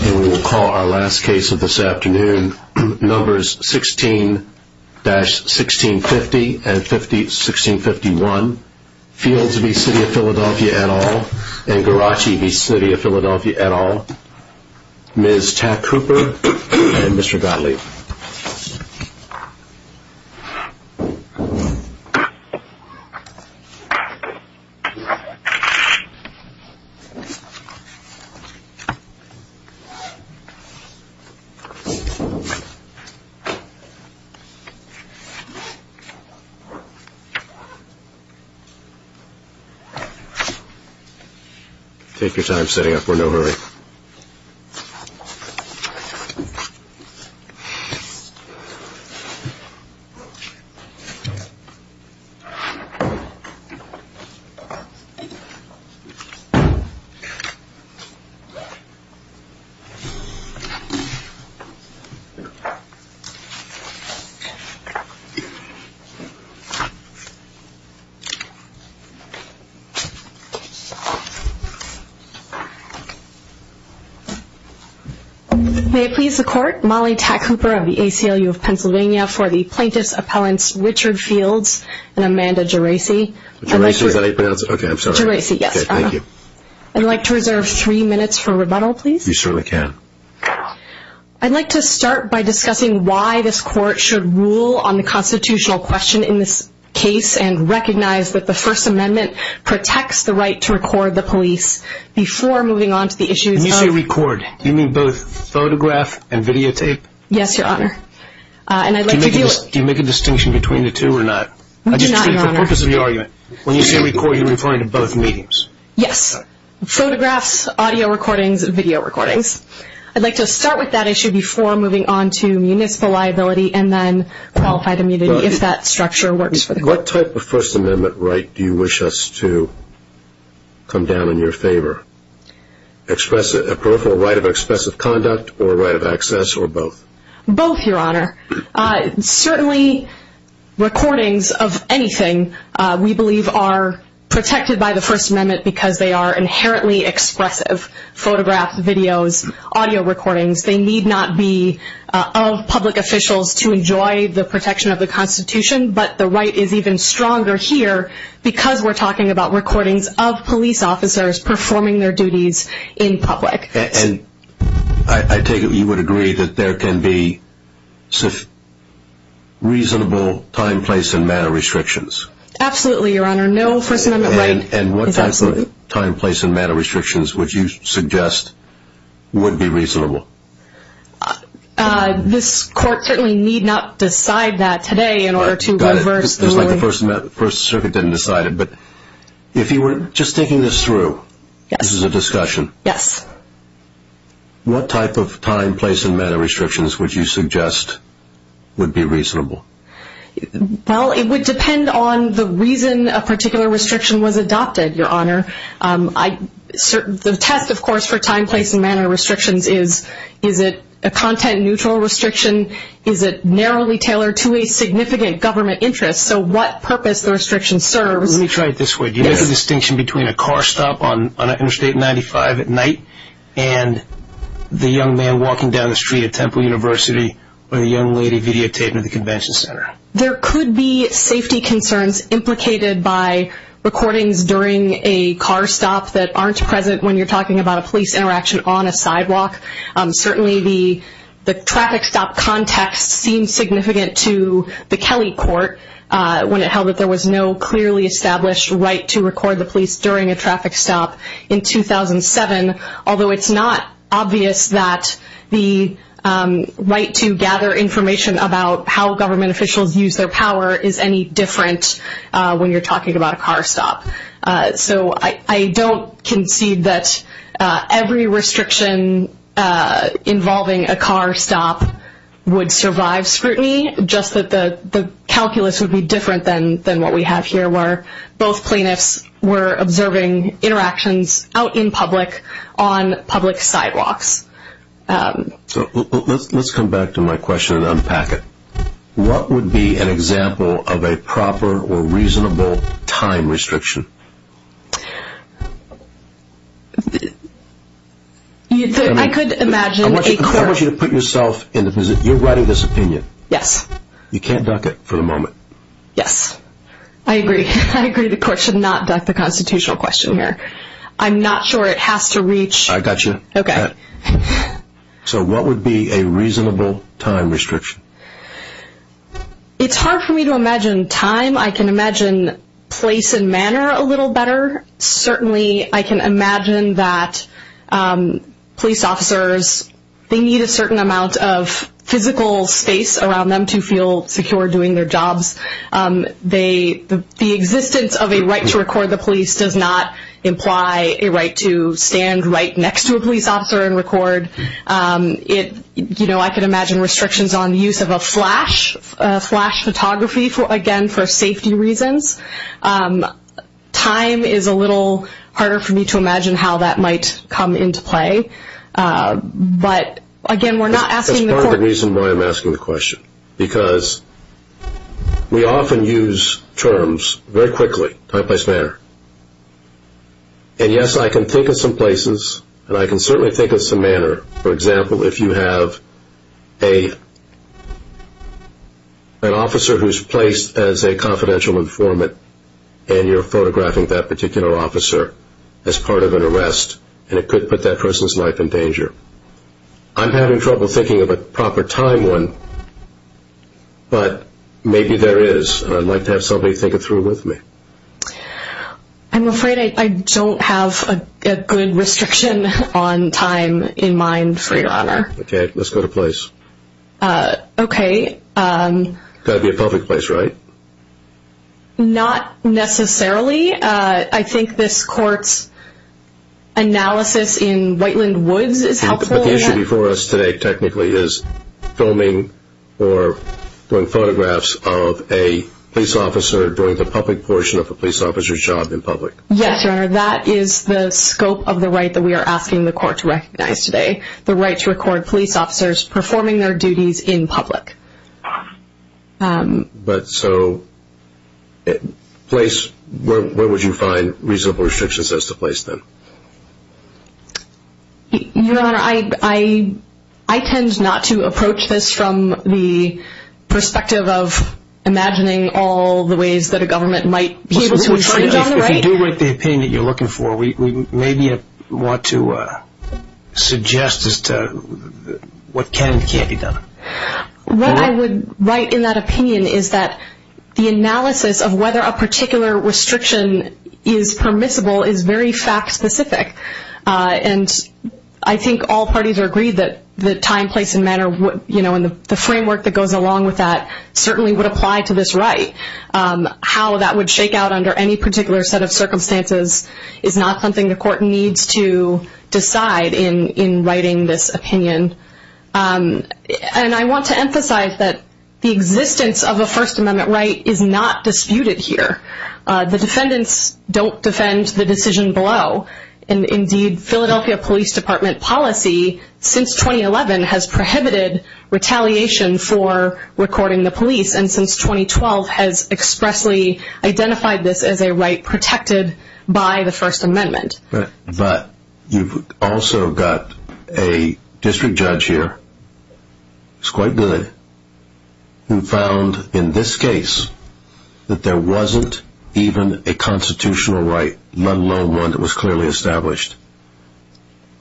We will call our last case of this afternoon, numbers 16-1650 and 1651, Fields v. City of Philadelphia et al. and Garaci v. City of Philadelphia et al., Ms. Tack Cooper and Mr. Gottlieb. Take your time setting up, we're in no hurry. May it please the court, Molly Tack Cooper of the ACLU of Pennsylvania for the plaintiff's appellants Richard Fields and Amanda Garaci. I'd like to reserve three minutes for rebuttal, please. You certainly can. I'd like to start by discussing why this court should rule on the constitutional question in this case and recognize that the First Amendment protects the right to record the police before moving on to the issues of... When you say record, do you mean both photograph and videotape? Yes, Your Honor. Do you make a distinction between the two or not? We do not, Your Honor. For the purpose of your argument, when you say record, you're referring to both mediums? Yes, photographs, audio recordings, video recordings. I'd like to start with that issue before moving on to municipal liability and then qualified immunity, if that structure works for the court. What type of First Amendment right do you wish us to come down in your favor? A peripheral right of expressive conduct or a right of access or both? Both, Your Honor. Certainly, recordings of anything, we believe, are protected by the First Amendment because they are inherently expressive. Photographs, videos, audio recordings, they need not be of public officials to enjoy the protection of the Constitution. But the right is even stronger here because we're talking about recordings of police officers performing their duties in public. And I take it you would agree that there can be reasonable time, place, and manner restrictions? Absolutely, Your Honor. No First Amendment right is absolute. And what type of time, place, and manner restrictions would you suggest would be reasonable? This Court certainly need not decide that today in order to reverse the ruling. Got it. Just like the First Circuit didn't decide it. But if you were just thinking this through, this is a discussion. Yes. What type of time, place, and manner restrictions would you suggest would be reasonable? Well, it would depend on the reason a particular restriction was adopted, Your Honor. The test, of course, for time, place, and manner restrictions is, is it a content-neutral restriction? Is it narrowly tailored to a significant government interest? So what purpose the restriction serves? Let me try it this way. Do you make a distinction between a car stop on Interstate 95 at night and the young man walking down the street at Temple University with a young lady videotaping at the convention center? There could be safety concerns implicated by recordings during a car stop that aren't present when you're talking about a police interaction on a sidewalk. Certainly the traffic stop context seems significant to the Kelly Court when it held that there was no clearly established right to record the police during a traffic stop in 2007, although it's not obvious that the right to gather information about how government officials use their power is any different when you're talking about a car stop. So I don't concede that every restriction involving a car stop would survive scrutiny, just that the calculus would be different than what we have here where both plaintiffs were observing interactions out in public on public sidewalks. Let's come back to my question and unpack it. What would be an example of a proper or reasonable time restriction? I could imagine a court... I want you to put yourself in the position... you're writing this opinion. Yes. You can't duck it for the moment. Yes. I agree. I agree the court should not duck the constitutional question here. I'm not sure it has to reach... I got you. Okay. So what would be a reasonable time restriction? It's hard for me to imagine time. I can imagine place and manner a little better. Certainly I can imagine that police officers, they need a certain amount of physical space around them to feel secure doing their jobs. The existence of a right to record the police does not imply a right to stand right next to a police officer and record. I can imagine restrictions on the use of a flash photography, again, for safety reasons. Time is a little harder for me to imagine how that might come into play. But again, we're not asking the court... We often use terms very quickly, time, place, manner. And yes, I can think of some places, and I can certainly think of some manner. For example, if you have an officer who's placed as a confidential informant and you're photographing that particular officer as part of an arrest, and it could put that person's life in danger. I'm having trouble thinking of a proper time one, but maybe there is. I'd like to have somebody think it through with me. I'm afraid I don't have a good restriction on time in mind, for your honor. Okay, let's go to place. Okay. It's got to be a public place, right? Not necessarily. I think this court's analysis in Whiteland Woods is helpful. The issue before us today, technically, is filming or doing photographs of a police officer during the public portion of a police officer's job in public. Yes, your honor, that is the scope of the right that we are asking the court to recognize today. The right to record police officers performing their duties in public. But so, place, where would you find reasonable restrictions as to place then? Your honor, I tend not to approach this from the perspective of imagining all the ways that a government might be able to infringe on the right. If you do write the opinion that you're looking for, we maybe want to suggest as to what can and can't be done. What I would write in that opinion is that the analysis of whether a particular restriction is permissible is very fact-specific. And I think all parties are agreed that the time, place, and manner, and the framework that goes along with that certainly would apply to this right. How that would shake out under any particular set of circumstances is not something the court needs to decide in writing this opinion. And I want to emphasize that the existence of a First Amendment right is not disputed here. The defendants don't defend the decision below. And indeed, Philadelphia Police Department policy, since 2011, has prohibited retaliation for recording the police. And since 2012 has expressly identified this as a right protected by the First Amendment. But you've also got a district judge here, who's quite good, who found in this case that there wasn't even a constitutional right, let alone one that was clearly established.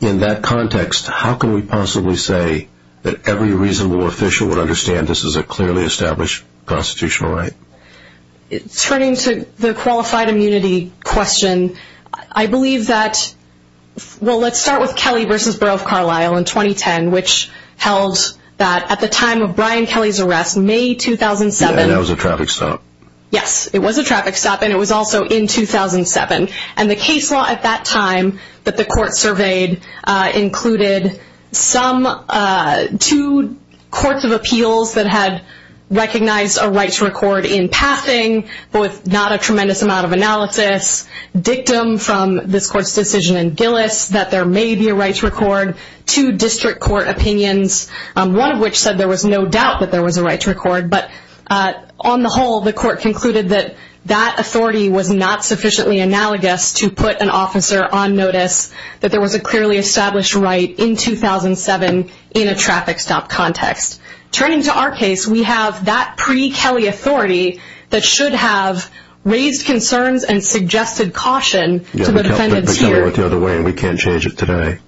In that context, how can we possibly say that every reasonable official would understand this is a clearly established constitutional right? Turning to the qualified immunity question, I believe that, well, let's start with Kelly v. Borough of Carlisle in 2010, which held that at the time of Brian Kelly's arrest, May 2007... And that was a traffic stop. Yes, it was a traffic stop, and it was also in 2007. And the case law at that time that the court surveyed included two courts of appeals that had recognized a right to record in passing, but with not a tremendous amount of analysis, dictum from this court's decision in Gillis that there may be a right to record, two district court opinions, one of which said there was no doubt that there was a right to record. But on the whole, the court concluded that that authority was not sufficiently analogous to put an officer on notice that there was a clearly established right in 2007 in a traffic stop context. Turning to our case, we have that pre-Kelly authority that should have raised concerns and suggested caution to the defendants here. You're saying we can't change it today.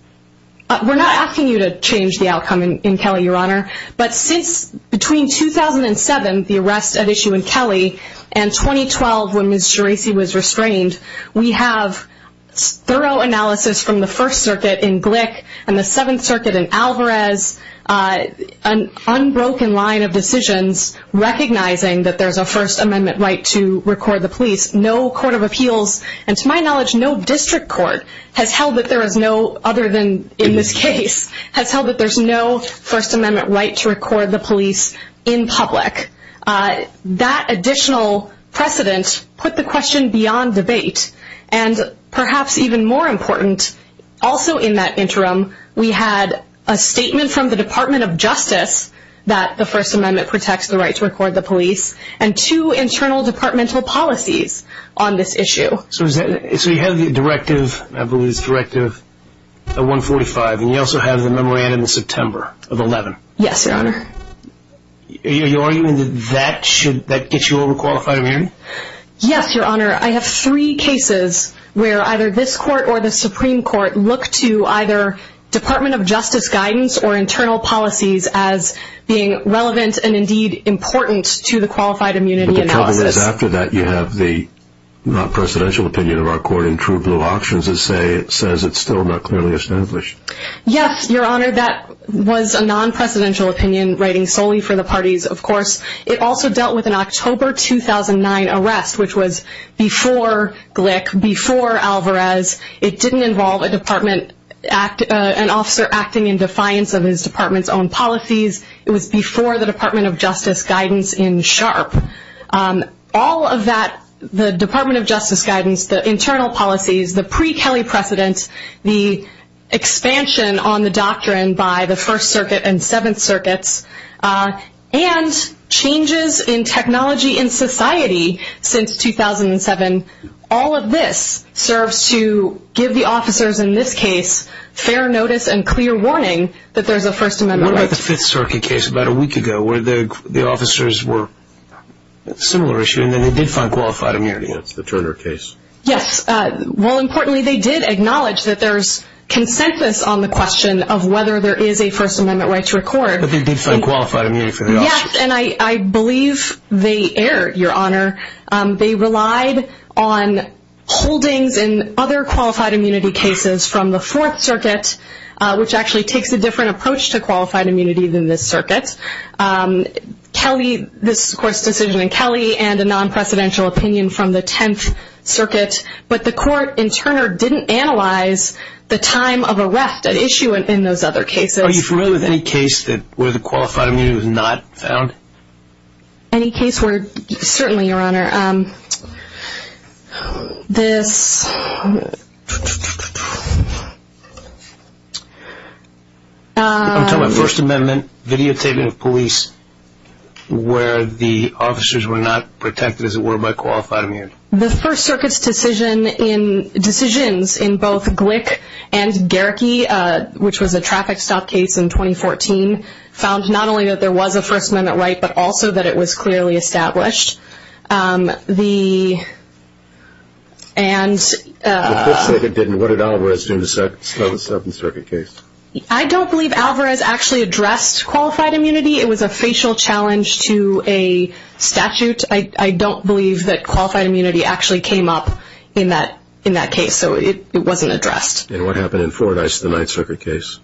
We're not asking you to change the outcome in Kelly, Your Honor. But since between 2007, the arrest at issue in Kelly, and 2012 when Ms. Geraci was restrained, we have thorough analysis from the First Circuit in Glick and the Seventh Circuit in Alvarez, an unbroken line of decisions recognizing that there's a First Amendment right to record the police. No court of appeals, and to my knowledge, no district court has held that there is no, other than in this case, has held that there's no First Amendment right to record the police in public. That additional precedent put the question beyond debate. And perhaps even more important, also in that interim, we had a statement from the Department of Justice that the First Amendment protects the right to record the police, and two internal departmental policies on this issue. So you have the Directive, I believe it's Directive 145, and you also have the memorandum in September of 11. Yes, Your Honor. Are you arguing that that should, that gets you over qualified immunity? Yes, Your Honor. I have three cases where either this court or the Supreme Court look to either Department of Justice guidance or internal policies as being relevant and indeed important to the qualified immunity analysis. But the problem is, after that, you have the non-presidential opinion of our court in True Blue Auctions that says it's still not clearly established. Yes, Your Honor, that was a non-presidential opinion writing solely for the parties, of course. It also dealt with an October 2009 arrest, which was before Glick, before Alvarez. It didn't involve an officer acting in defiance of his department's own policies. It was before the Department of Justice guidance in Sharpe. All of that, the Department of Justice guidance, the internal policies, the pre-Kelly precedent, the expansion on the doctrine by the First Circuit and Seventh Circuits, and changes in technology in society since 2007, all of this serves to give the officers in this case fair notice and clear warning that there's a First Amendment right. What about the Fifth Circuit case about a week ago where the officers were, similar issue, and then they did find qualified immunity against the Turner case? Yes. Well, importantly, they did acknowledge that there's consensus on the question of whether there is a First Amendment right to record. But they did find qualified immunity for the officers. Yes, and I believe they erred, Your Honor. They relied on holdings in other qualified immunity cases from the Fourth Circuit, which actually takes a different approach to qualified immunity than this circuit. Kelly, this, of course, decision in Kelly and a non-presidential opinion from the Tenth Circuit, but the court in Turner didn't analyze the time of arrest at issue in those other cases. Are you familiar with any case where the qualified immunity was not found? Any case where, certainly, Your Honor. This... I'm talking about First Amendment videotaping of police where the officers were not protected, as it were, by qualified immunity. The First Circuit's decisions in both Glick and Gehrke, which was a traffic stop case in 2014, found not only that there was a First Amendment right, but also that it was clearly established. The... The Fifth Circuit didn't. What did Alvarez do to slow the Seventh Circuit case? I don't believe Alvarez actually addressed qualified immunity. It was a facial challenge to a statute. I don't believe that qualified immunity actually came up in that case, so it wasn't addressed. And what happened in Fordyce, the Ninth Circuit case?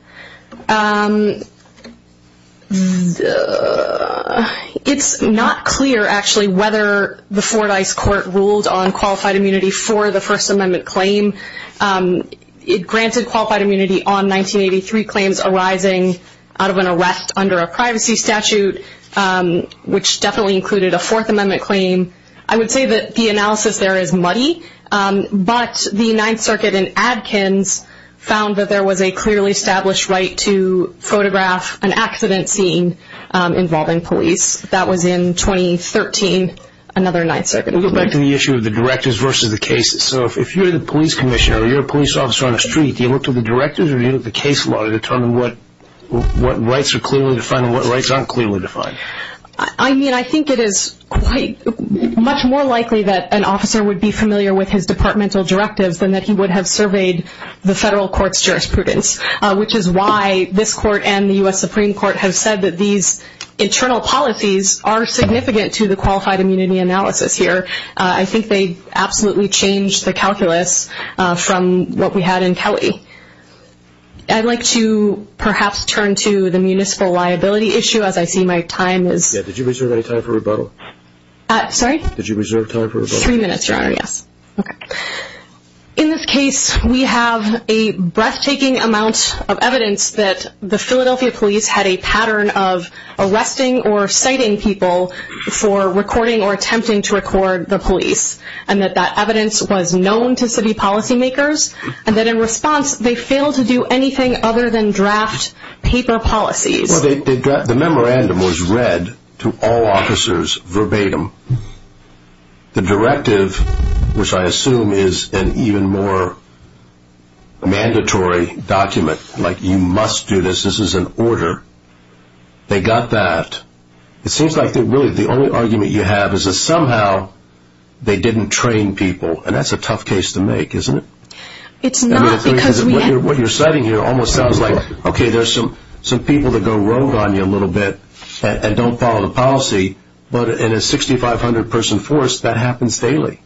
It's not clear, actually, whether the Fordyce court ruled on qualified immunity for the First Amendment claim. It granted qualified immunity on 1983 claims arising out of an arrest under a privacy statute, which definitely included a Fourth Amendment claim. I would say that the analysis there is muddy, but the Ninth Circuit in Adkins found that there was a clearly established right to photograph an accident scene involving police. That was in 2013, another Ninth Circuit. We'll go back to the issue of the directors versus the cases. So if you're the police commissioner or you're a police officer on the street, do you look to the directors or do you look to the case law to determine what rights are clearly defined I mean, I think it is much more likely that an officer would be familiar with his departmental directives than that he would have surveyed the federal court's jurisprudence, which is why this court and the U.S. Supreme Court have said that these internal policies are significant to the qualified immunity analysis here. I think they absolutely changed the calculus from what we had in Kelly. I'd like to perhaps turn to the municipal liability issue, as I see my time is... Yeah, did you reserve any time for rebuttal? Sorry? Did you reserve time for rebuttal? Three minutes, Your Honor, yes. Okay. In this case, we have a breathtaking amount of evidence that the Philadelphia police had a pattern of arresting or citing people for recording or attempting to record the police, and that that evidence was known to city policymakers, and that in response they failed to do anything other than draft paper policies. Well, the memorandum was read to all officers verbatim. The directive, which I assume is an even more mandatory document, like, you must do this, this is an order, they got that. It seems like really the only argument you have is that somehow they didn't train people, and that's a tough case to make, isn't it? It's not because we have... What you're citing here almost sounds like, okay, there's some people that go rogue on you a little bit and don't follow the policy, but in a 6,500-person force, that happens daily.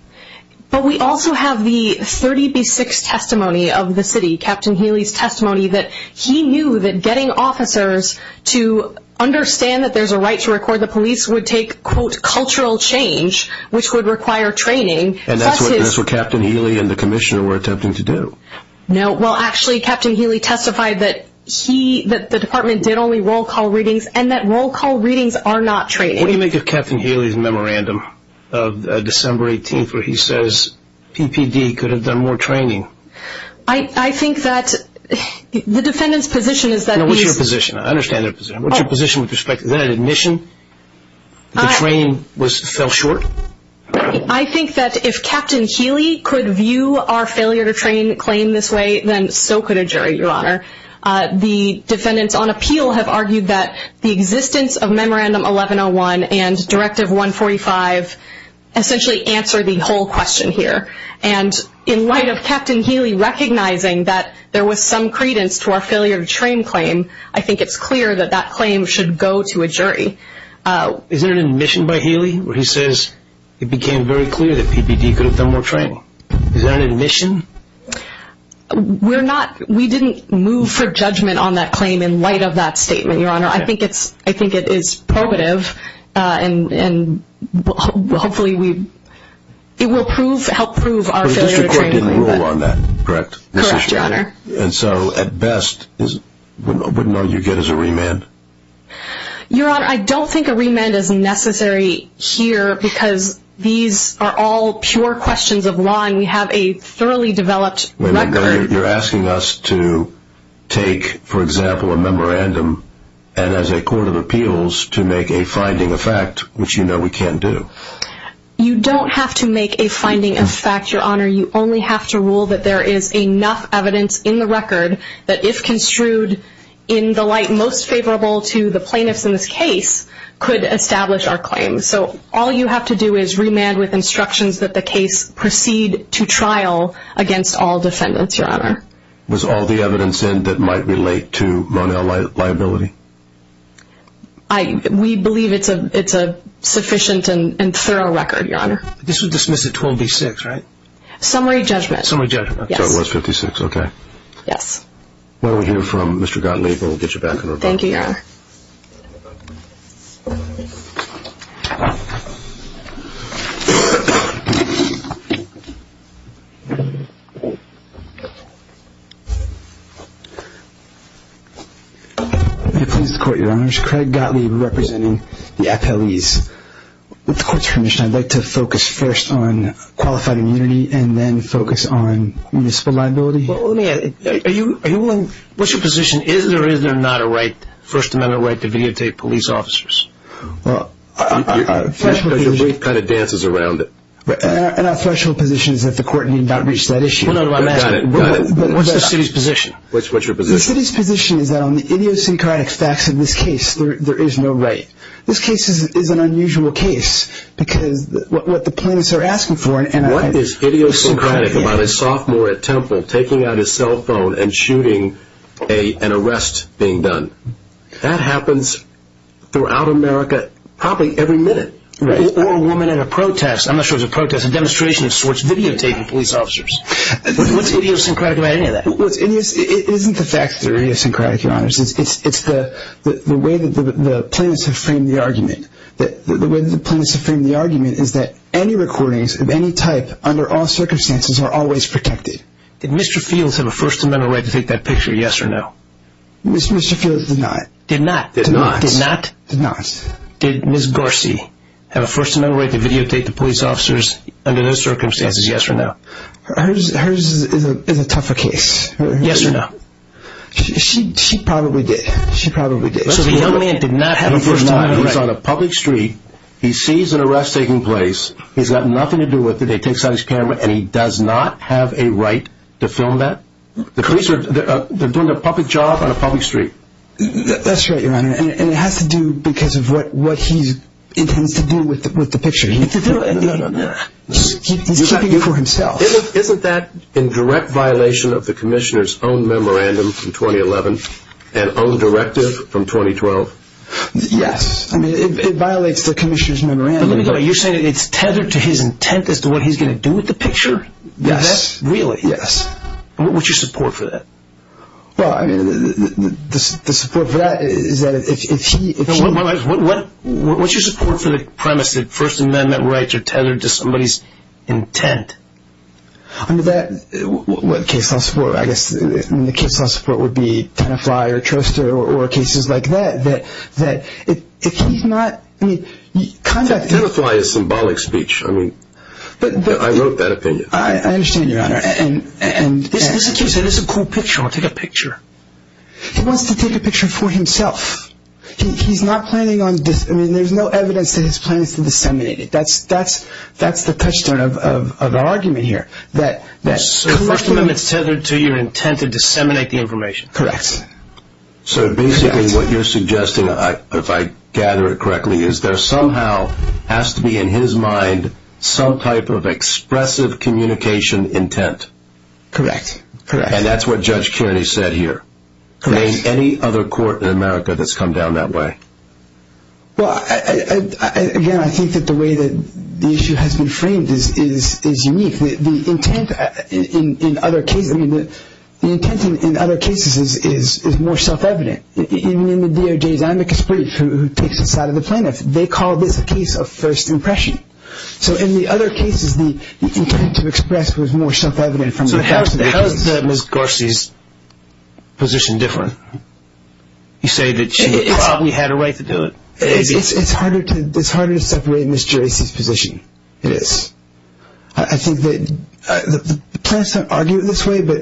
But we also have the 30B6 testimony of the city, Captain Healy's testimony, that he knew that getting officers to understand that there's a right to record the police would take, quote, cultural change, which would require training. And that's what Captain Healy and the commissioner were attempting to do. No, well, actually Captain Healy testified that the department did only roll call readings and that roll call readings are not training. What do you make of Captain Healy's memorandum of December 18th where he says PPD could have done more training? I think that the defendant's position is that... What's your position? I understand their position. What's your position with respect to that admission that the training fell short? I think that if Captain Healy could view our failure-to-train claim this way, then so could a jury, Your Honor. The defendants on appeal have argued that the existence of Memorandum 1101 and Directive 145 essentially answer the whole question here. And in light of Captain Healy recognizing that there was some credence to our failure-to-train claim, I think it's clear that that claim should go to a jury. Is there an admission by Healy where he says it became very clear that PPD could have done more training? Is there an admission? We didn't move for judgment on that claim in light of that statement, Your Honor. I think it is probative and hopefully it will help prove our failure-to-train claim. But the district court didn't rule on that, correct? Correct, Your Honor. And so at best, wouldn't all you get is a remand? Your Honor, I don't think a remand is necessary here because these are all pure questions of law and we have a thoroughly developed record. You're asking us to take, for example, a memorandum and as a court of appeals to make a finding of fact, which you know we can't do. You don't have to make a finding of fact, Your Honor. You only have to rule that there is enough evidence in the record that if construed in the light most favorable to the plaintiffs in this case, could establish our claim. So all you have to do is remand with instructions that the case proceed to trial against all defendants, Your Honor. Was all the evidence in that might relate to Ronell liability? We believe it's a sufficient and thorough record, Your Honor. This was dismissed at 12-B-6, right? Summary judgment. Summary judgment. So it was 56, okay. Yes. Why don't we hear from Mr. Gottlieb and we'll get you back to her. Thank you, Your Honor. May it please the Court, Your Honors. Craig Gottlieb representing the appellees. With the Court's permission, I'd like to focus first on qualified immunity and then focus on municipal liability. Well, let me ask you, are you willing, what's your position? Is there or is there not a right first and foremost? Is there or is there not a right to videotape police officers? Your brief kind of dances around it. And our threshold position is that the Court need not reach that issue. Got it, got it. What's the city's position? What's your position? The city's position is that on the idiosyncratic facts of this case, there is no right. This case is an unusual case because what the plaintiffs are asking for and I… What is idiosyncratic about a sophomore at Temple taking out his cell phone and shooting an arrest being done? That happens throughout America probably every minute. Right. Or a woman in a protest, I'm not sure it was a protest, a demonstration of sorts videotaping police officers. What's idiosyncratic about any of that? It isn't the fact that they're idiosyncratic, Your Honors. It's the way that the plaintiffs have framed the argument. The way that the plaintiffs have framed the argument is that any recordings of any type under all circumstances are always protected. Did Mr. Fields have a First Amendment right to take that picture, yes or no? Mr. Fields did not. Did not? Did not. Did not? Did not. Did Ms. Garcy have a First Amendment right to videotape the police officers under those circumstances, yes or no? Hers is a tougher case. Yes or no? She probably did. She probably did. So the young man did not have a First Amendment right? He's on a public street. He sees an arrest taking place. He's got nothing to do with it. He takes out his camera and he does not have a right to film that? The police are doing a public job on a public street. That's right, Your Honor, and it has to do because of what he intends to do with the picture. He's keeping it for himself. Isn't that in direct violation of the Commissioner's own memorandum from 2011 and own directive from 2012? It violates the Commissioner's memorandum. You're saying it's tethered to his intent as to what he's going to do with the picture? Yes. Really? Yes. What's your support for that? Well, I mean, the support for that is that if he— What's your support for the premise that First Amendment rights are tethered to somebody's intent? Under that, what case law support? I guess the case law support would be Tenafly or Troster or cases like that, that if he's not— Tenafly is symbolic speech. I mean, I wrote that opinion. I understand, Your Honor, and— This is a cool picture. I want to take a picture. He wants to take a picture for himself. He's not planning on—I mean, there's no evidence that he's planning to disseminate it. That's the touchstone of our argument here. So First Amendment's tethered to your intent to disseminate the information? Correct. So basically what you're suggesting, if I gather it correctly, is there somehow has to be in his mind some type of expressive communication intent. Correct. And that's what Judge Kearney said here. Correct. There ain't any other court in America that's come down that way. Well, again, I think that the way that the issue has been framed is unique. The intent in other cases—I mean, the intent in other cases is more self-evident. Even in the DOJ's amicus brief, who takes this out of the plaintiff, they call this a case of first impression. So in the other cases, the intent to express was more self-evident. So how is Ms. Gorsy's position different? You say that she probably had a right to do it. It's harder to separate Ms. Geraci's position. It is. I think that the plaintiffs don't argue it this way, but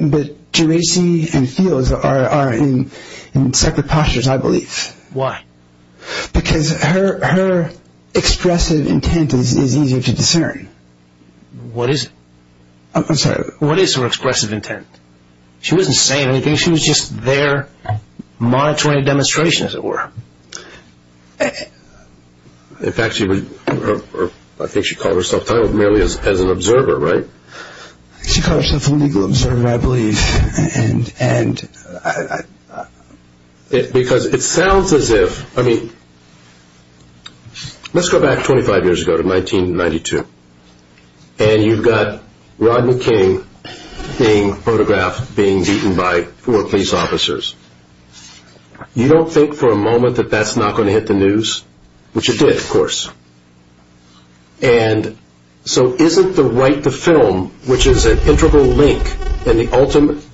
Geraci and Fields are in separate postures, I believe. Why? Because her expressive intent is easier to discern. What is her expressive intent? She wasn't saying anything. She was just there monitoring a demonstration, as it were. In fact, I think she called herself merely as an observer, right? She called herself a legal observer, I believe. Because it sounds as if—I mean, let's go back 25 years ago to 1992, and you've got Rodney King being photographed being beaten by four police officers. You don't think for a moment that that's not going to hit the news, which it did, of course. And so isn't the right to film, which is an integral link in the ultimate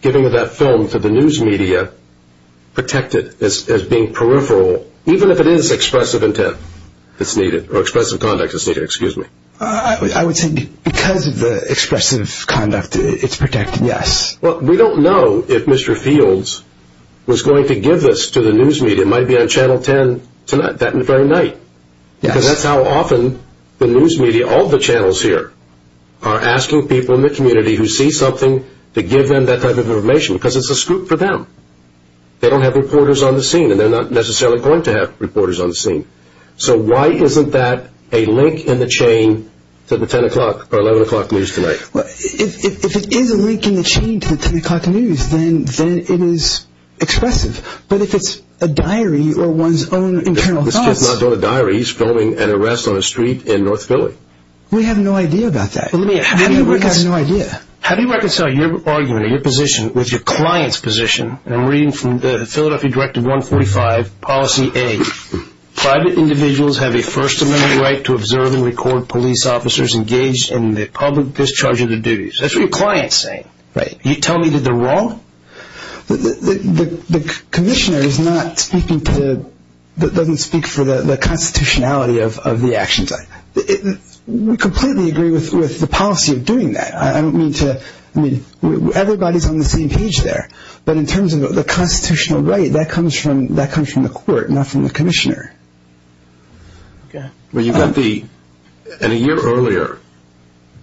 giving of that film to the news media, protected as being peripheral, even if it is expressive intent that's needed, or expressive conduct that's needed, excuse me? I would say because of the expressive conduct, it's protected, yes. Well, we don't know if Mr. Fields was going to give this to the news media. It might be on Channel 10 tonight, that very night, because that's how often the news media, all the channels here, are asking people in the community who see something to give them that type of information, because it's a scoop for them. They don't have reporters on the scene, and they're not necessarily going to have reporters on the scene. So why isn't that a link in the chain to the 10 o'clock or 11 o'clock news tonight? Well, if it is a link in the chain to the 10 o'clock news, then it is expressive. But if it's a diary or one's own internal thoughts... This kid's not doing a diary. He's filming an arrest on a street in North Philly. We have no idea about that. How do you reconcile your argument or your position with your client's position? I'm reading from the Philadelphia Directive 145, Policy A. Private individuals have a First Amendment right to observe and record police officers engaged in the public discharge of their duties. That's what your client's saying. Right. You tell me that they're wrong? The commissioner doesn't speak for the constitutionality of the actions. We completely agree with the policy of doing that. Everybody's on the same page there. But in terms of the constitutional right, that comes from the court, not from the commissioner. In a year earlier,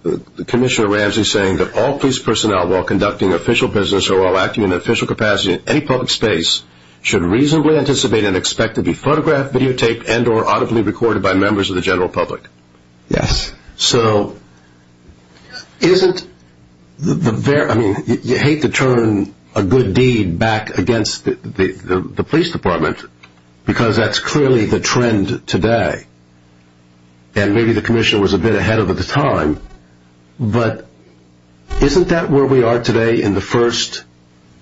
the commissioner, Ramsey, is saying that all police personnel while conducting official business or while acting in an official capacity in any public space should reasonably anticipate and expect to be photographed, videotaped, and or audibly recorded by members of the general public. Yes. You hate to turn a good deed back against the police department because that's clearly the trend today. And maybe the commissioner was a bit ahead of the time. But isn't that where we are today in the First,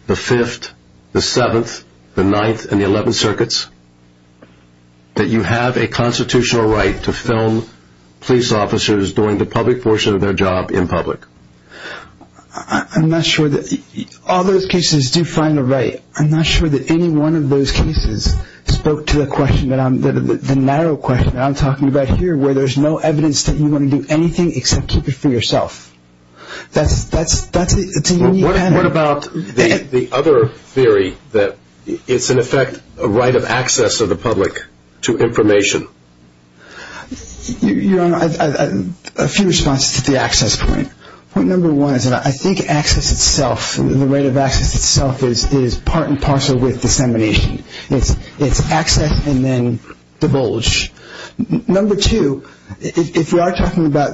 the Fifth, the Seventh, the Ninth, and the Eleventh Circuits, that you have a constitutional right to film police officers doing the public portion of their job in public? I'm not sure that all those cases do find a right. I'm not sure that any one of those cases spoke to the question that I'm, the narrow question that I'm talking about here, where there's no evidence that you want to do anything except keep it for yourself. That's a unique pattern. What about the other theory that it's in effect a right of access of the public to information? Your Honor, a few responses to the access point. Point number one is that I think access itself, the right of access itself, is part and parcel with dissemination. It's access and then divulge. Number two, if we are talking about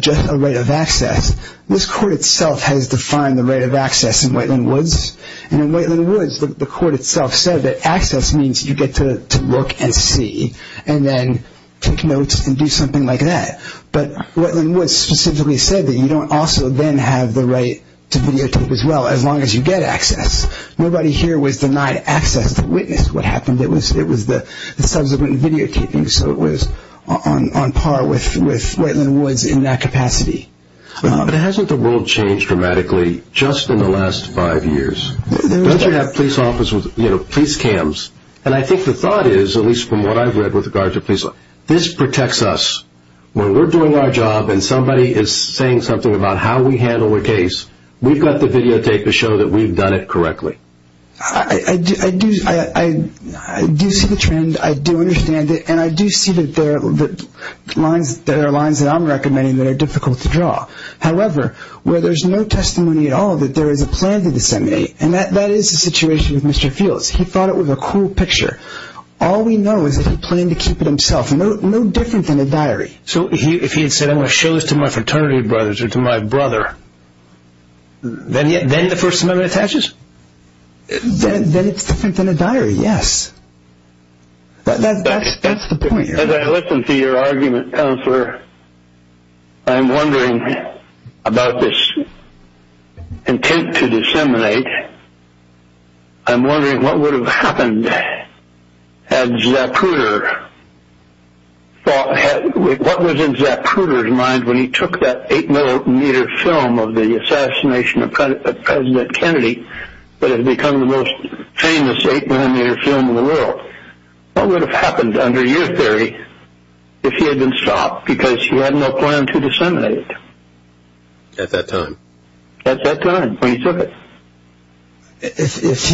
just a right of access, this court itself has defined the right of access in Wetland Woods. And in Wetland Woods, the court itself said that access means you get to look and see and then take notes and do something like that. But Wetland Woods specifically said that you don't also then have the right to videotape as well, as long as you get access. Nobody here was denied access to witness what happened. It was the subsequent videotaping, so it was on par with Wetland Woods in that capacity. But hasn't the world changed dramatically just in the last five years? Don't you have police cams? And I think the thought is, at least from what I've read with regard to police, this protects us. When we're doing our job and somebody is saying something about how we handle a case, we've got to videotape to show that we've done it correctly. I do see the trend, I do understand it, and I do see that there are lines that I'm recommending that are difficult to draw. However, where there's no testimony at all that there is a plan to disseminate, and that is the situation with Mr. Fields. He thought it was a cool picture. All we know is that he planned to keep it himself, no different than a diary. So if he had said, I'm going to show this to my fraternity brothers or to my brother, then the First Amendment attaches? Then it's different than a diary, yes. That's the point. As I listen to your argument, Councillor, I'm wondering about this intent to disseminate. I'm wondering what would have happened had Zapruder thought, what was in Zapruder's mind when he took that eight-millimeter film of the assassination of President Kennedy that had become the most famous eight-millimeter film in the world? What would have happened under your theory if he had been stopped because he had no plan to disseminate it? At that time. At that time, when he took it. If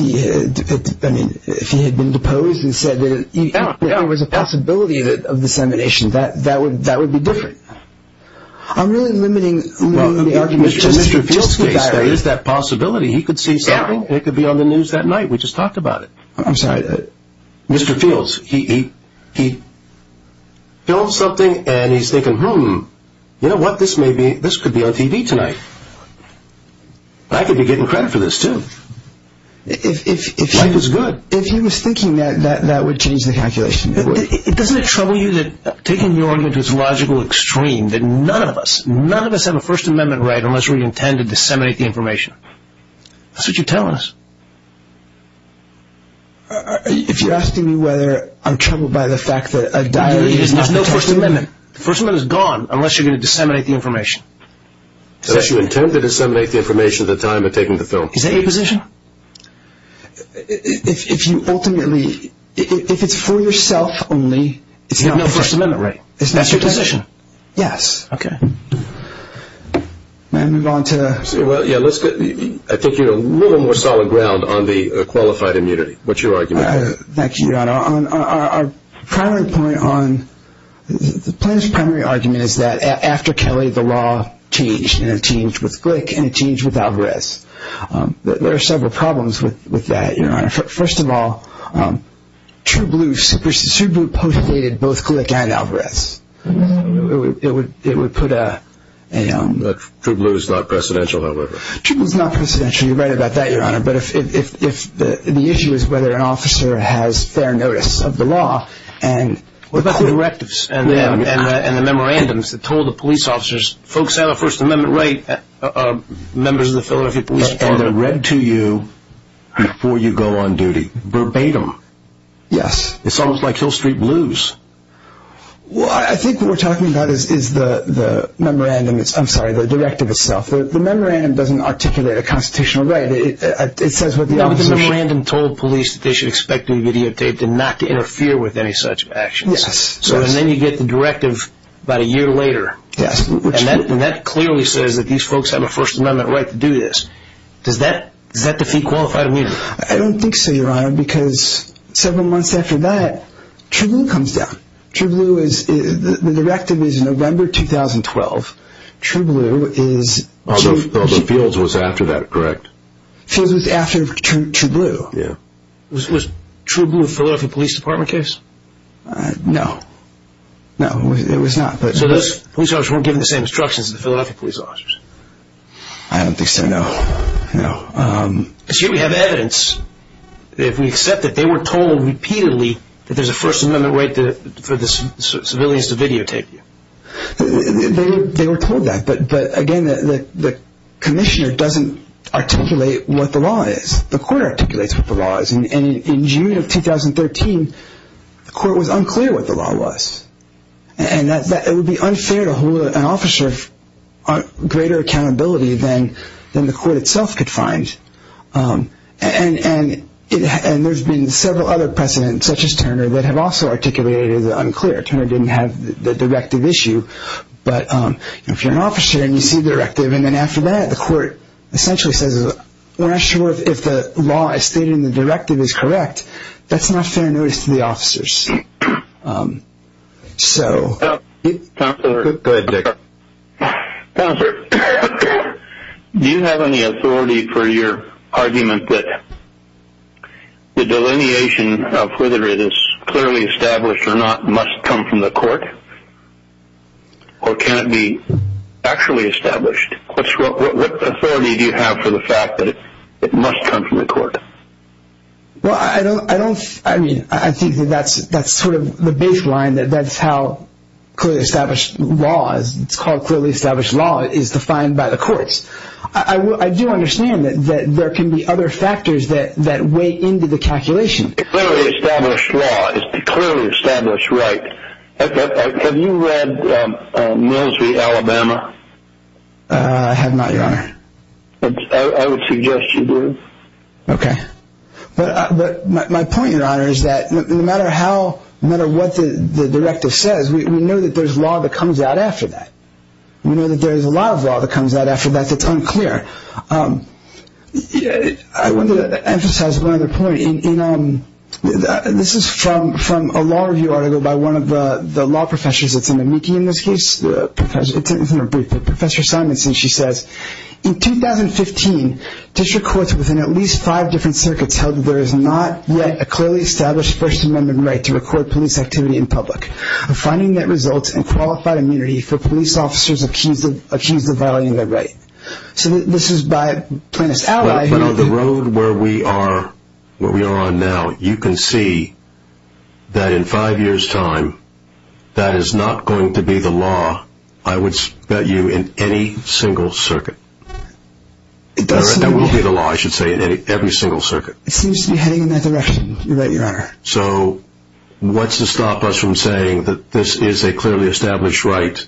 he had been deposed and said that there was a possibility of dissemination, that would be different. I'm really limiting the argument to just the diary. In Mr. Fields' case, there is that possibility. He could see something. It could be on the news that night. We just talked about it. I'm sorry. Mr. Fields, he filmed something, and he's thinking, you know what, this could be on TV tonight. I could be getting credit for this, too. Life is good. If he was thinking that, that would change the calculation. Doesn't it trouble you that, taking your argument to its logical extreme, that none of us, none of us have a First Amendment right unless we intend to disseminate the information? That's what you're telling us. If you're asking me whether I'm troubled by the fact that a diary is not the First Amendment. The First Amendment is gone unless you're going to disseminate the information. Unless you intend to disseminate the information at the time of taking the film. Is that your position? If you ultimately, if it's for yourself only, it's not the First Amendment. You have no First Amendment right. That's your position. Yes. Okay. May I move on to the… Well, yeah. I think you're a little more solid ground on the qualified immunity. What's your argument? Thank you, Your Honor. Our primary point on, the plaintiff's primary argument is that after Kelly, the law changed, and it changed with Glick, and it changed with Alvarez. There are several problems with that, Your Honor. First of all, True Blue postdated both Glick and Alvarez. It would put a… True Blue is not presidential, however. True Blue is not presidential. You're right about that, Your Honor. The issue is whether an officer has fair notice of the law. What about the directives? And the memorandums that told the police officers, folks have a First Amendment right, members of the Philadelphia Police Department. And they're read to you before you go on duty, verbatim. Yes. It's almost like Hill Street Blues. Well, I think what we're talking about is the memorandum, I'm sorry, the directive itself. The memorandum doesn't articulate a constitutional right. It says what the officer… The memorandum told police that they should expect to be videotaped and not to interfere with any such actions. Yes. And then you get the directive about a year later. Yes. And that clearly says that these folks have a First Amendment right to do this. Does that defeat qualified immunity? I don't think so, Your Honor, because several months after that, True Blue comes down. The directive is November 2012. True Blue is… Well, the Fields was after that, correct? Fields was after True Blue. Was True Blue a Philadelphia Police Department case? No. No, it was not. So those police officers weren't given the same instructions as the Philadelphia Police Officers? I don't think so, no. Because here we have evidence. If we accept that they were told repeatedly that there's a First Amendment right for the civilians to videotape you. They were told that. But, again, the commissioner doesn't articulate what the law is. The court articulates what the law is. And in June of 2013, the court was unclear what the law was. And it would be unfair to hold an officer of greater accountability than the court itself could find. And there's been several other precedents, such as Turner, that have also articulated it as unclear. Turner didn't have the directive issue. But if you're an officer and you see the directive, and then after that the court essentially says we're not sure if the law as stated in the directive is correct, that's not fair notice to the officers. So… Go ahead, Dick. Counselor, do you have any authority for your argument that the delineation of whether it is clearly established or not must come from the court? Or can it be actually established? What authority do you have for the fact that it must come from the court? Well, I don't – I mean, I think that that's sort of the baseline, that that's how clearly established law is. It's called clearly established law. It is defined by the courts. I do understand that there can be other factors that weigh into the calculation. A clearly established law is a clearly established right. Have you read Mills v. Alabama? I have not, Your Honor. I would suggest you do. Okay. But my point, Your Honor, is that no matter how – no matter what the directive says, we know that there's law that comes out after that. We know that there's a lot of law that comes out after that that's unclear. I want to emphasize one other point. This is from a law review article by one of the law professors that's in the MICI in this case. It's in her brief, but Professor Simonson, she says, in 2015, district courts within at least five different circuits held that there is not yet a clearly established First Amendment right to record police activity in public. A finding that results in qualified immunity for police officers accused of violating their right. So this is by plaintiff's ally. But on the road where we are on now, you can see that in five years' time, that is not going to be the law, I would bet you, in any single circuit. That will be the law, I should say, in every single circuit. It seems to be heading in that direction, Your Honor. So what's to stop us from saying that this is a clearly established right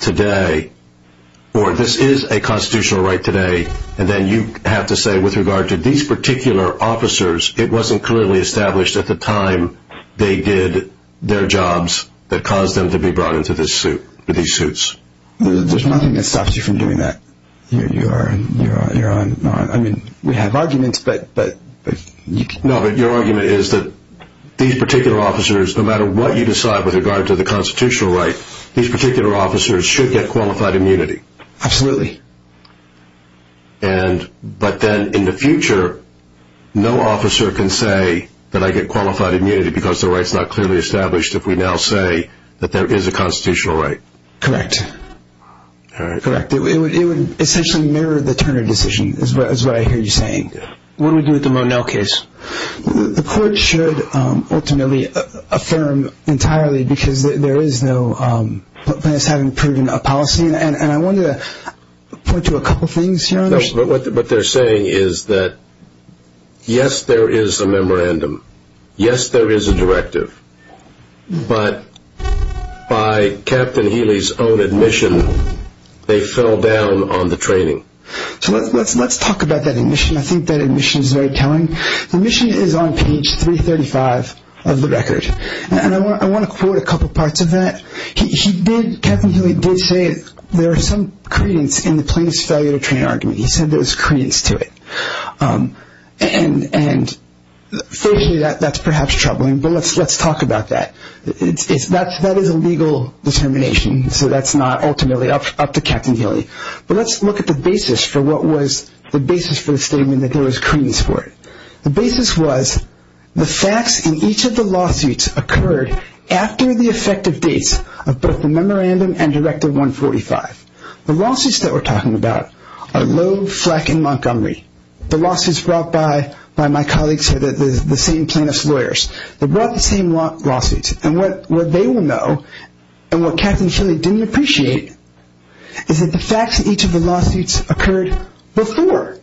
today, or this is a constitutional right today, and then you have to say with regard to these particular officers, it wasn't clearly established at the time they did their jobs that caused them to be brought into these suits? There's nothing that stops you from doing that, Your Honor. I mean, we have arguments, but you can... No, but your argument is that these particular officers, no matter what you decide with regard to the constitutional right, these particular officers should get qualified immunity. Absolutely. But then in the future, no officer can say that I get qualified immunity because the right's not clearly established if we now say that there is a constitutional right. Correct. All right. Correct. It would essentially mirror the Turner decision, is what I hear you saying. What do we do with the Monell case? The court should ultimately affirm entirely, because there is no place having proven a policy, and I wanted to point to a couple things, Your Honor. What they're saying is that, yes, there is a memorandum. Yes, there is a directive. But by Captain Healy's own admission, they fell down on the training. So let's talk about that admission. I think that admission is very telling. The admission is on page 335 of the record, and I want to quote a couple parts of that. Captain Healy did say there is some credence in the plaintiff's failure to train argument. He said there was credence to it. And, fortunately, that's perhaps troubling, but let's talk about that. That is a legal determination, so that's not ultimately up to Captain Healy. But let's look at the basis for what was the basis for the statement that there was credence for it. The basis was the facts in each of the lawsuits occurred after the effective dates of both the memorandum and Directive 145. The lawsuits that we're talking about are Lowe, Fleck, and Montgomery. The lawsuits brought by my colleagues here, the same plaintiff's lawyers. They brought the same lawsuits. And what they will know, and what Captain Healy didn't appreciate, is that the facts in each of the lawsuits occurred before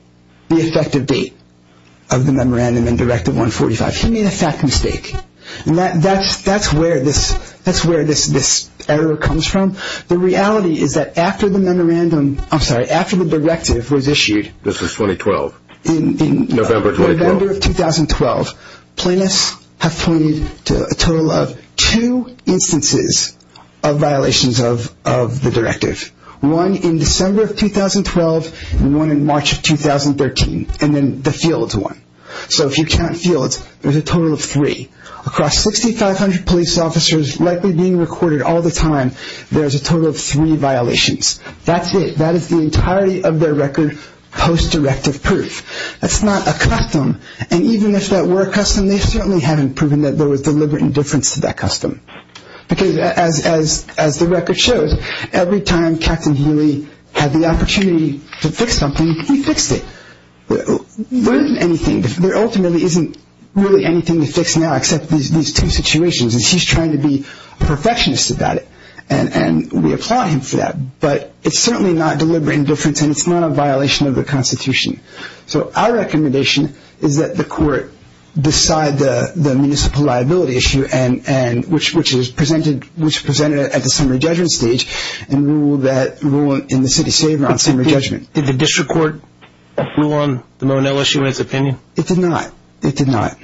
the effective date of the memorandum and Directive 145. He made a fact mistake. And that's where this error comes from. The reality is that after the memorandum, I'm sorry, after the directive was issued. This is 2012. In November 2012. Plaintiffs have pointed to a total of two instances of violations of the directive. One in December of 2012 and one in March of 2013. And then the Fields one. So if you count Fields, there's a total of three. Across 6,500 police officers likely being recorded all the time, there's a total of three violations. That's it. That is the entirety of their record post-directive proof. That's not a custom. And even if that were a custom, they certainly haven't proven that there was deliberate indifference to that custom. Because as the record shows, every time Captain Healy had the opportunity to fix something, he fixed it. There ultimately isn't really anything to fix now except these two situations. And he's trying to be a perfectionist about it. And we applaud him for that. But it's certainly not deliberate indifference and it's not a violation of the Constitution. So our recommendation is that the court decide the municipal liability issue, which is presented at the summary judgment stage and rule in the city's favor on summary judgment. Did the district court rule on the Monell issue in its opinion? It did not. It did not.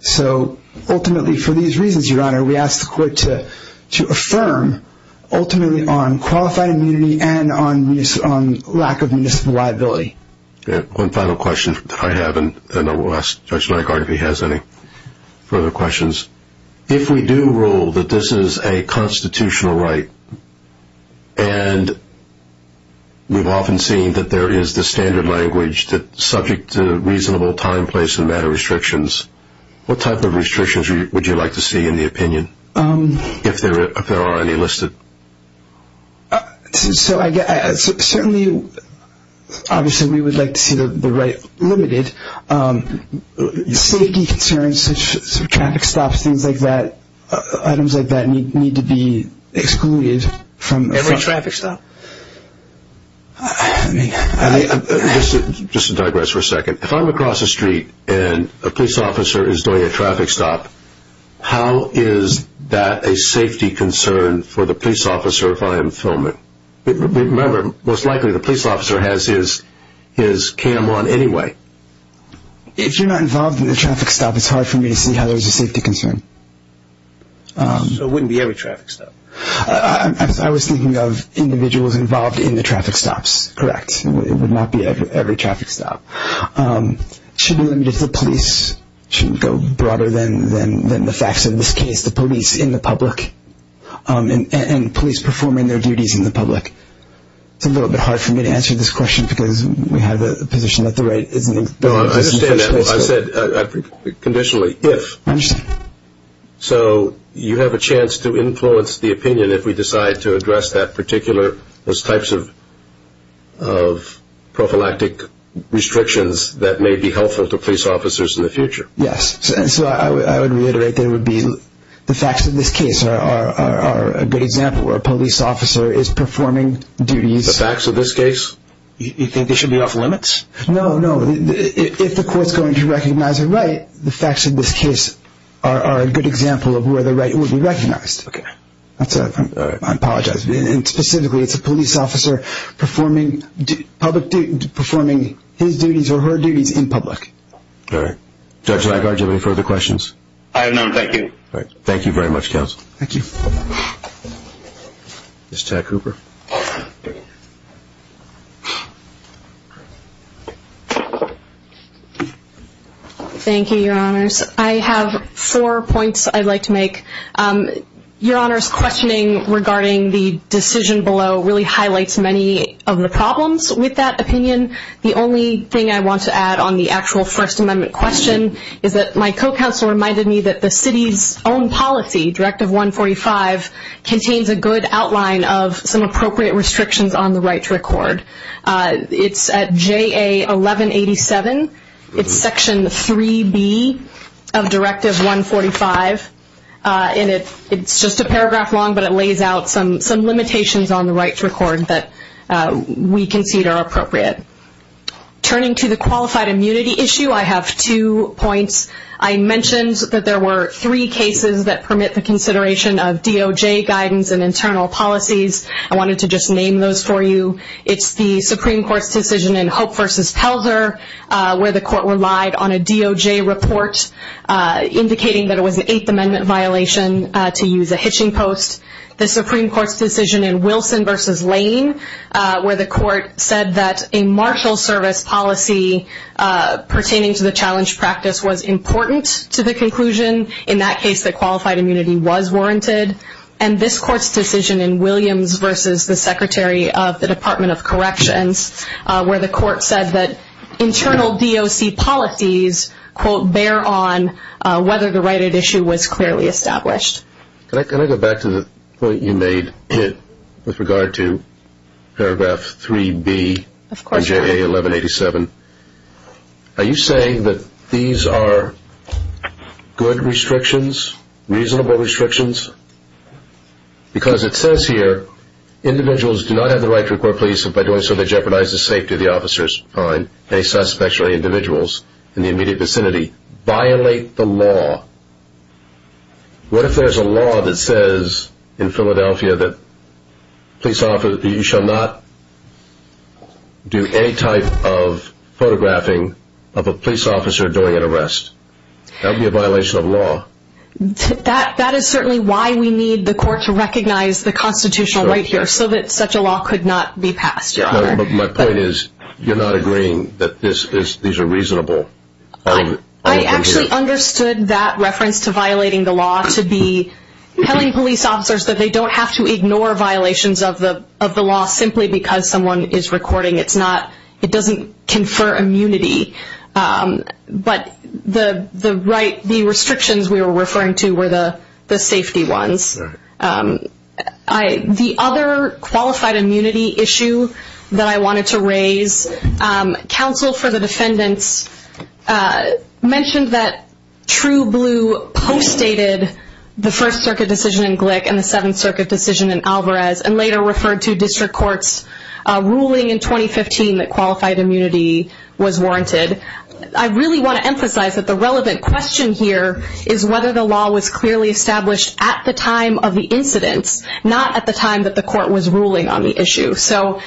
So ultimately for these reasons, Your Honor, we ask the court to affirm ultimately on qualified immunity and on lack of municipal liability. One final question that I have, and then we'll ask Judge Lankard if he has any further questions. If we do rule that this is a constitutional right and we've often seen that there is the standard language that's subject to reasonable time, place, and matter restrictions, what type of restrictions would you like to see in the opinion, if there are any listed? Certainly, obviously we would like to see the right limited. Safety concerns, traffic stops, things like that, items like that need to be excluded. Every traffic stop? Just to digress for a second. If I'm across the street and a police officer is doing a traffic stop, how is that a safety concern for the police officer if I am filming? Remember, most likely the police officer has his cam on anyway. If you're not involved in the traffic stop, it's hard for me to see how there's a safety concern. So it wouldn't be every traffic stop? I was thinking of individuals involved in the traffic stops, correct. It would not be every traffic stop. Should we limit it to the police? Should it go broader than the facts in this case, the police in the public and police performing their duties in the public? It's a little bit hard for me to answer this question because we have a position that the right isn't in place. I understand that. I said conditionally, if. I understand. So you have a chance to influence the opinion if we decide to address that particular, those types of prophylactic restrictions that may be helpful to police officers in the future. Yes. So I would reiterate that it would be the facts of this case are a good example where a police officer is performing duties. The facts of this case? You think they should be off limits? No, no. If the court's going to recognize a right, the facts of this case are a good example of where the right would be recognized. Okay. I apologize. And specifically, it's a police officer performing his duties or her duties in public. All right. Judge Lagarde, do you have any further questions? I have none. Thank you. Thank you very much, counsel. Thank you. Ms. Tack-Hooper. Thank you, Your Honors. I have four points I'd like to make. Your Honor's questioning regarding the decision below really highlights many of the problems with that opinion. The only thing I want to add on the actual First Amendment question is that my co-counsel reminded me that the city's own policy, Directive 145, contains a good outline of some appropriate restrictions on the right to record. It's at JA 1187. It's Section 3B of Directive 145, and it's just a paragraph long, but it lays out some limitations on the right to record that we concede are appropriate. Turning to the qualified immunity issue, I have two points. I mentioned that there were three cases that permit the consideration of DOJ guidance and internal policies. I wanted to just name those for you. It's the Supreme Court's decision in Hope v. Pelzer where the court relied on a DOJ report, indicating that it was an Eighth Amendment violation to use a hitching post. The Supreme Court's decision in Wilson v. Lane, where the court said that a martial service policy pertaining to the challenge practice was important to the conclusion. In that case, the qualified immunity was warranted. And this court's decision in Williams v. the Secretary of the Department of Corrections, where the court said that internal DOC policies, quote, bear on whether the right at issue was clearly established. Can I go back to the point you made with regard to paragraph 3B of JA 1187? Are you saying that these are good restrictions, reasonable restrictions? Because it says here, individuals do not have the right to report police by doing so they jeopardize the safety of the officers, fine, any suspects or any individuals in the immediate vicinity. Violate the law. What if there's a law that says in Philadelphia that you shall not do any type of photographing of a police officer during an arrest? That would be a violation of law. That is certainly why we need the court to recognize the constitutional right here, so that such a law could not be passed. My point is, you're not agreeing that these are reasonable. I actually understood that reference to violating the law to be telling police officers that they don't have to ignore violations of the law simply because someone is recording. It doesn't confer immunity. But the restrictions we were referring to were the safety ones. The other qualified immunity issue that I wanted to raise, counsel for the defendants mentioned that True Blue postdated the First Circuit decision in Glick and the Seventh Circuit decision in Alvarez, and later referred to district courts' ruling in 2015 that qualified immunity was warranted. I really want to emphasize that the relevant question here is whether the law was clearly established at the time of the incidents, not at the time that the court was ruling on the issue. So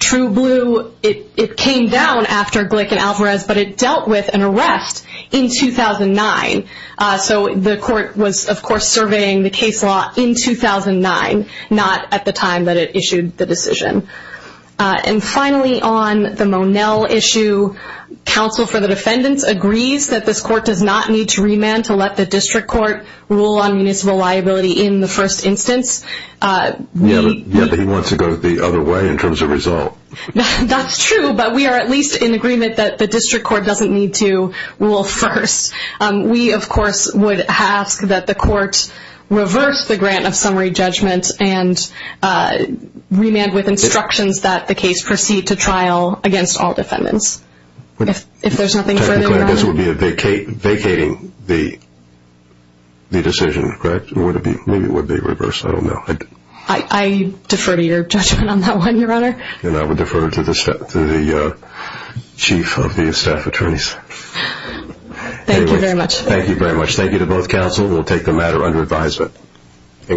True Blue, it came down after Glick and Alvarez, but it dealt with an arrest in 2009. So the court was, of course, surveying the case law in 2009, not at the time that it issued the decision. And finally, on the Monell issue, counsel for the defendants agrees that this court does not need to remand to let the district court rule on municipal liability in the first instance. Yet he wants to go the other way in terms of resolve. That's true, but we are at least in agreement that the district court doesn't need to rule first. We, of course, would ask that the court reverse the grant of summary judgment and remand with instructions that the case proceed to trial against all defendants. If there's nothing further, Your Honor. Technically, I guess it would be vacating the decision, correct? Maybe it would be reversed. I don't know. I defer to your judgment on that one, Your Honor. And I would defer to the chief of the staff attorneys. Thank you very much. Thank you very much. Thank you to both counsel. We'll take the matter under advisement.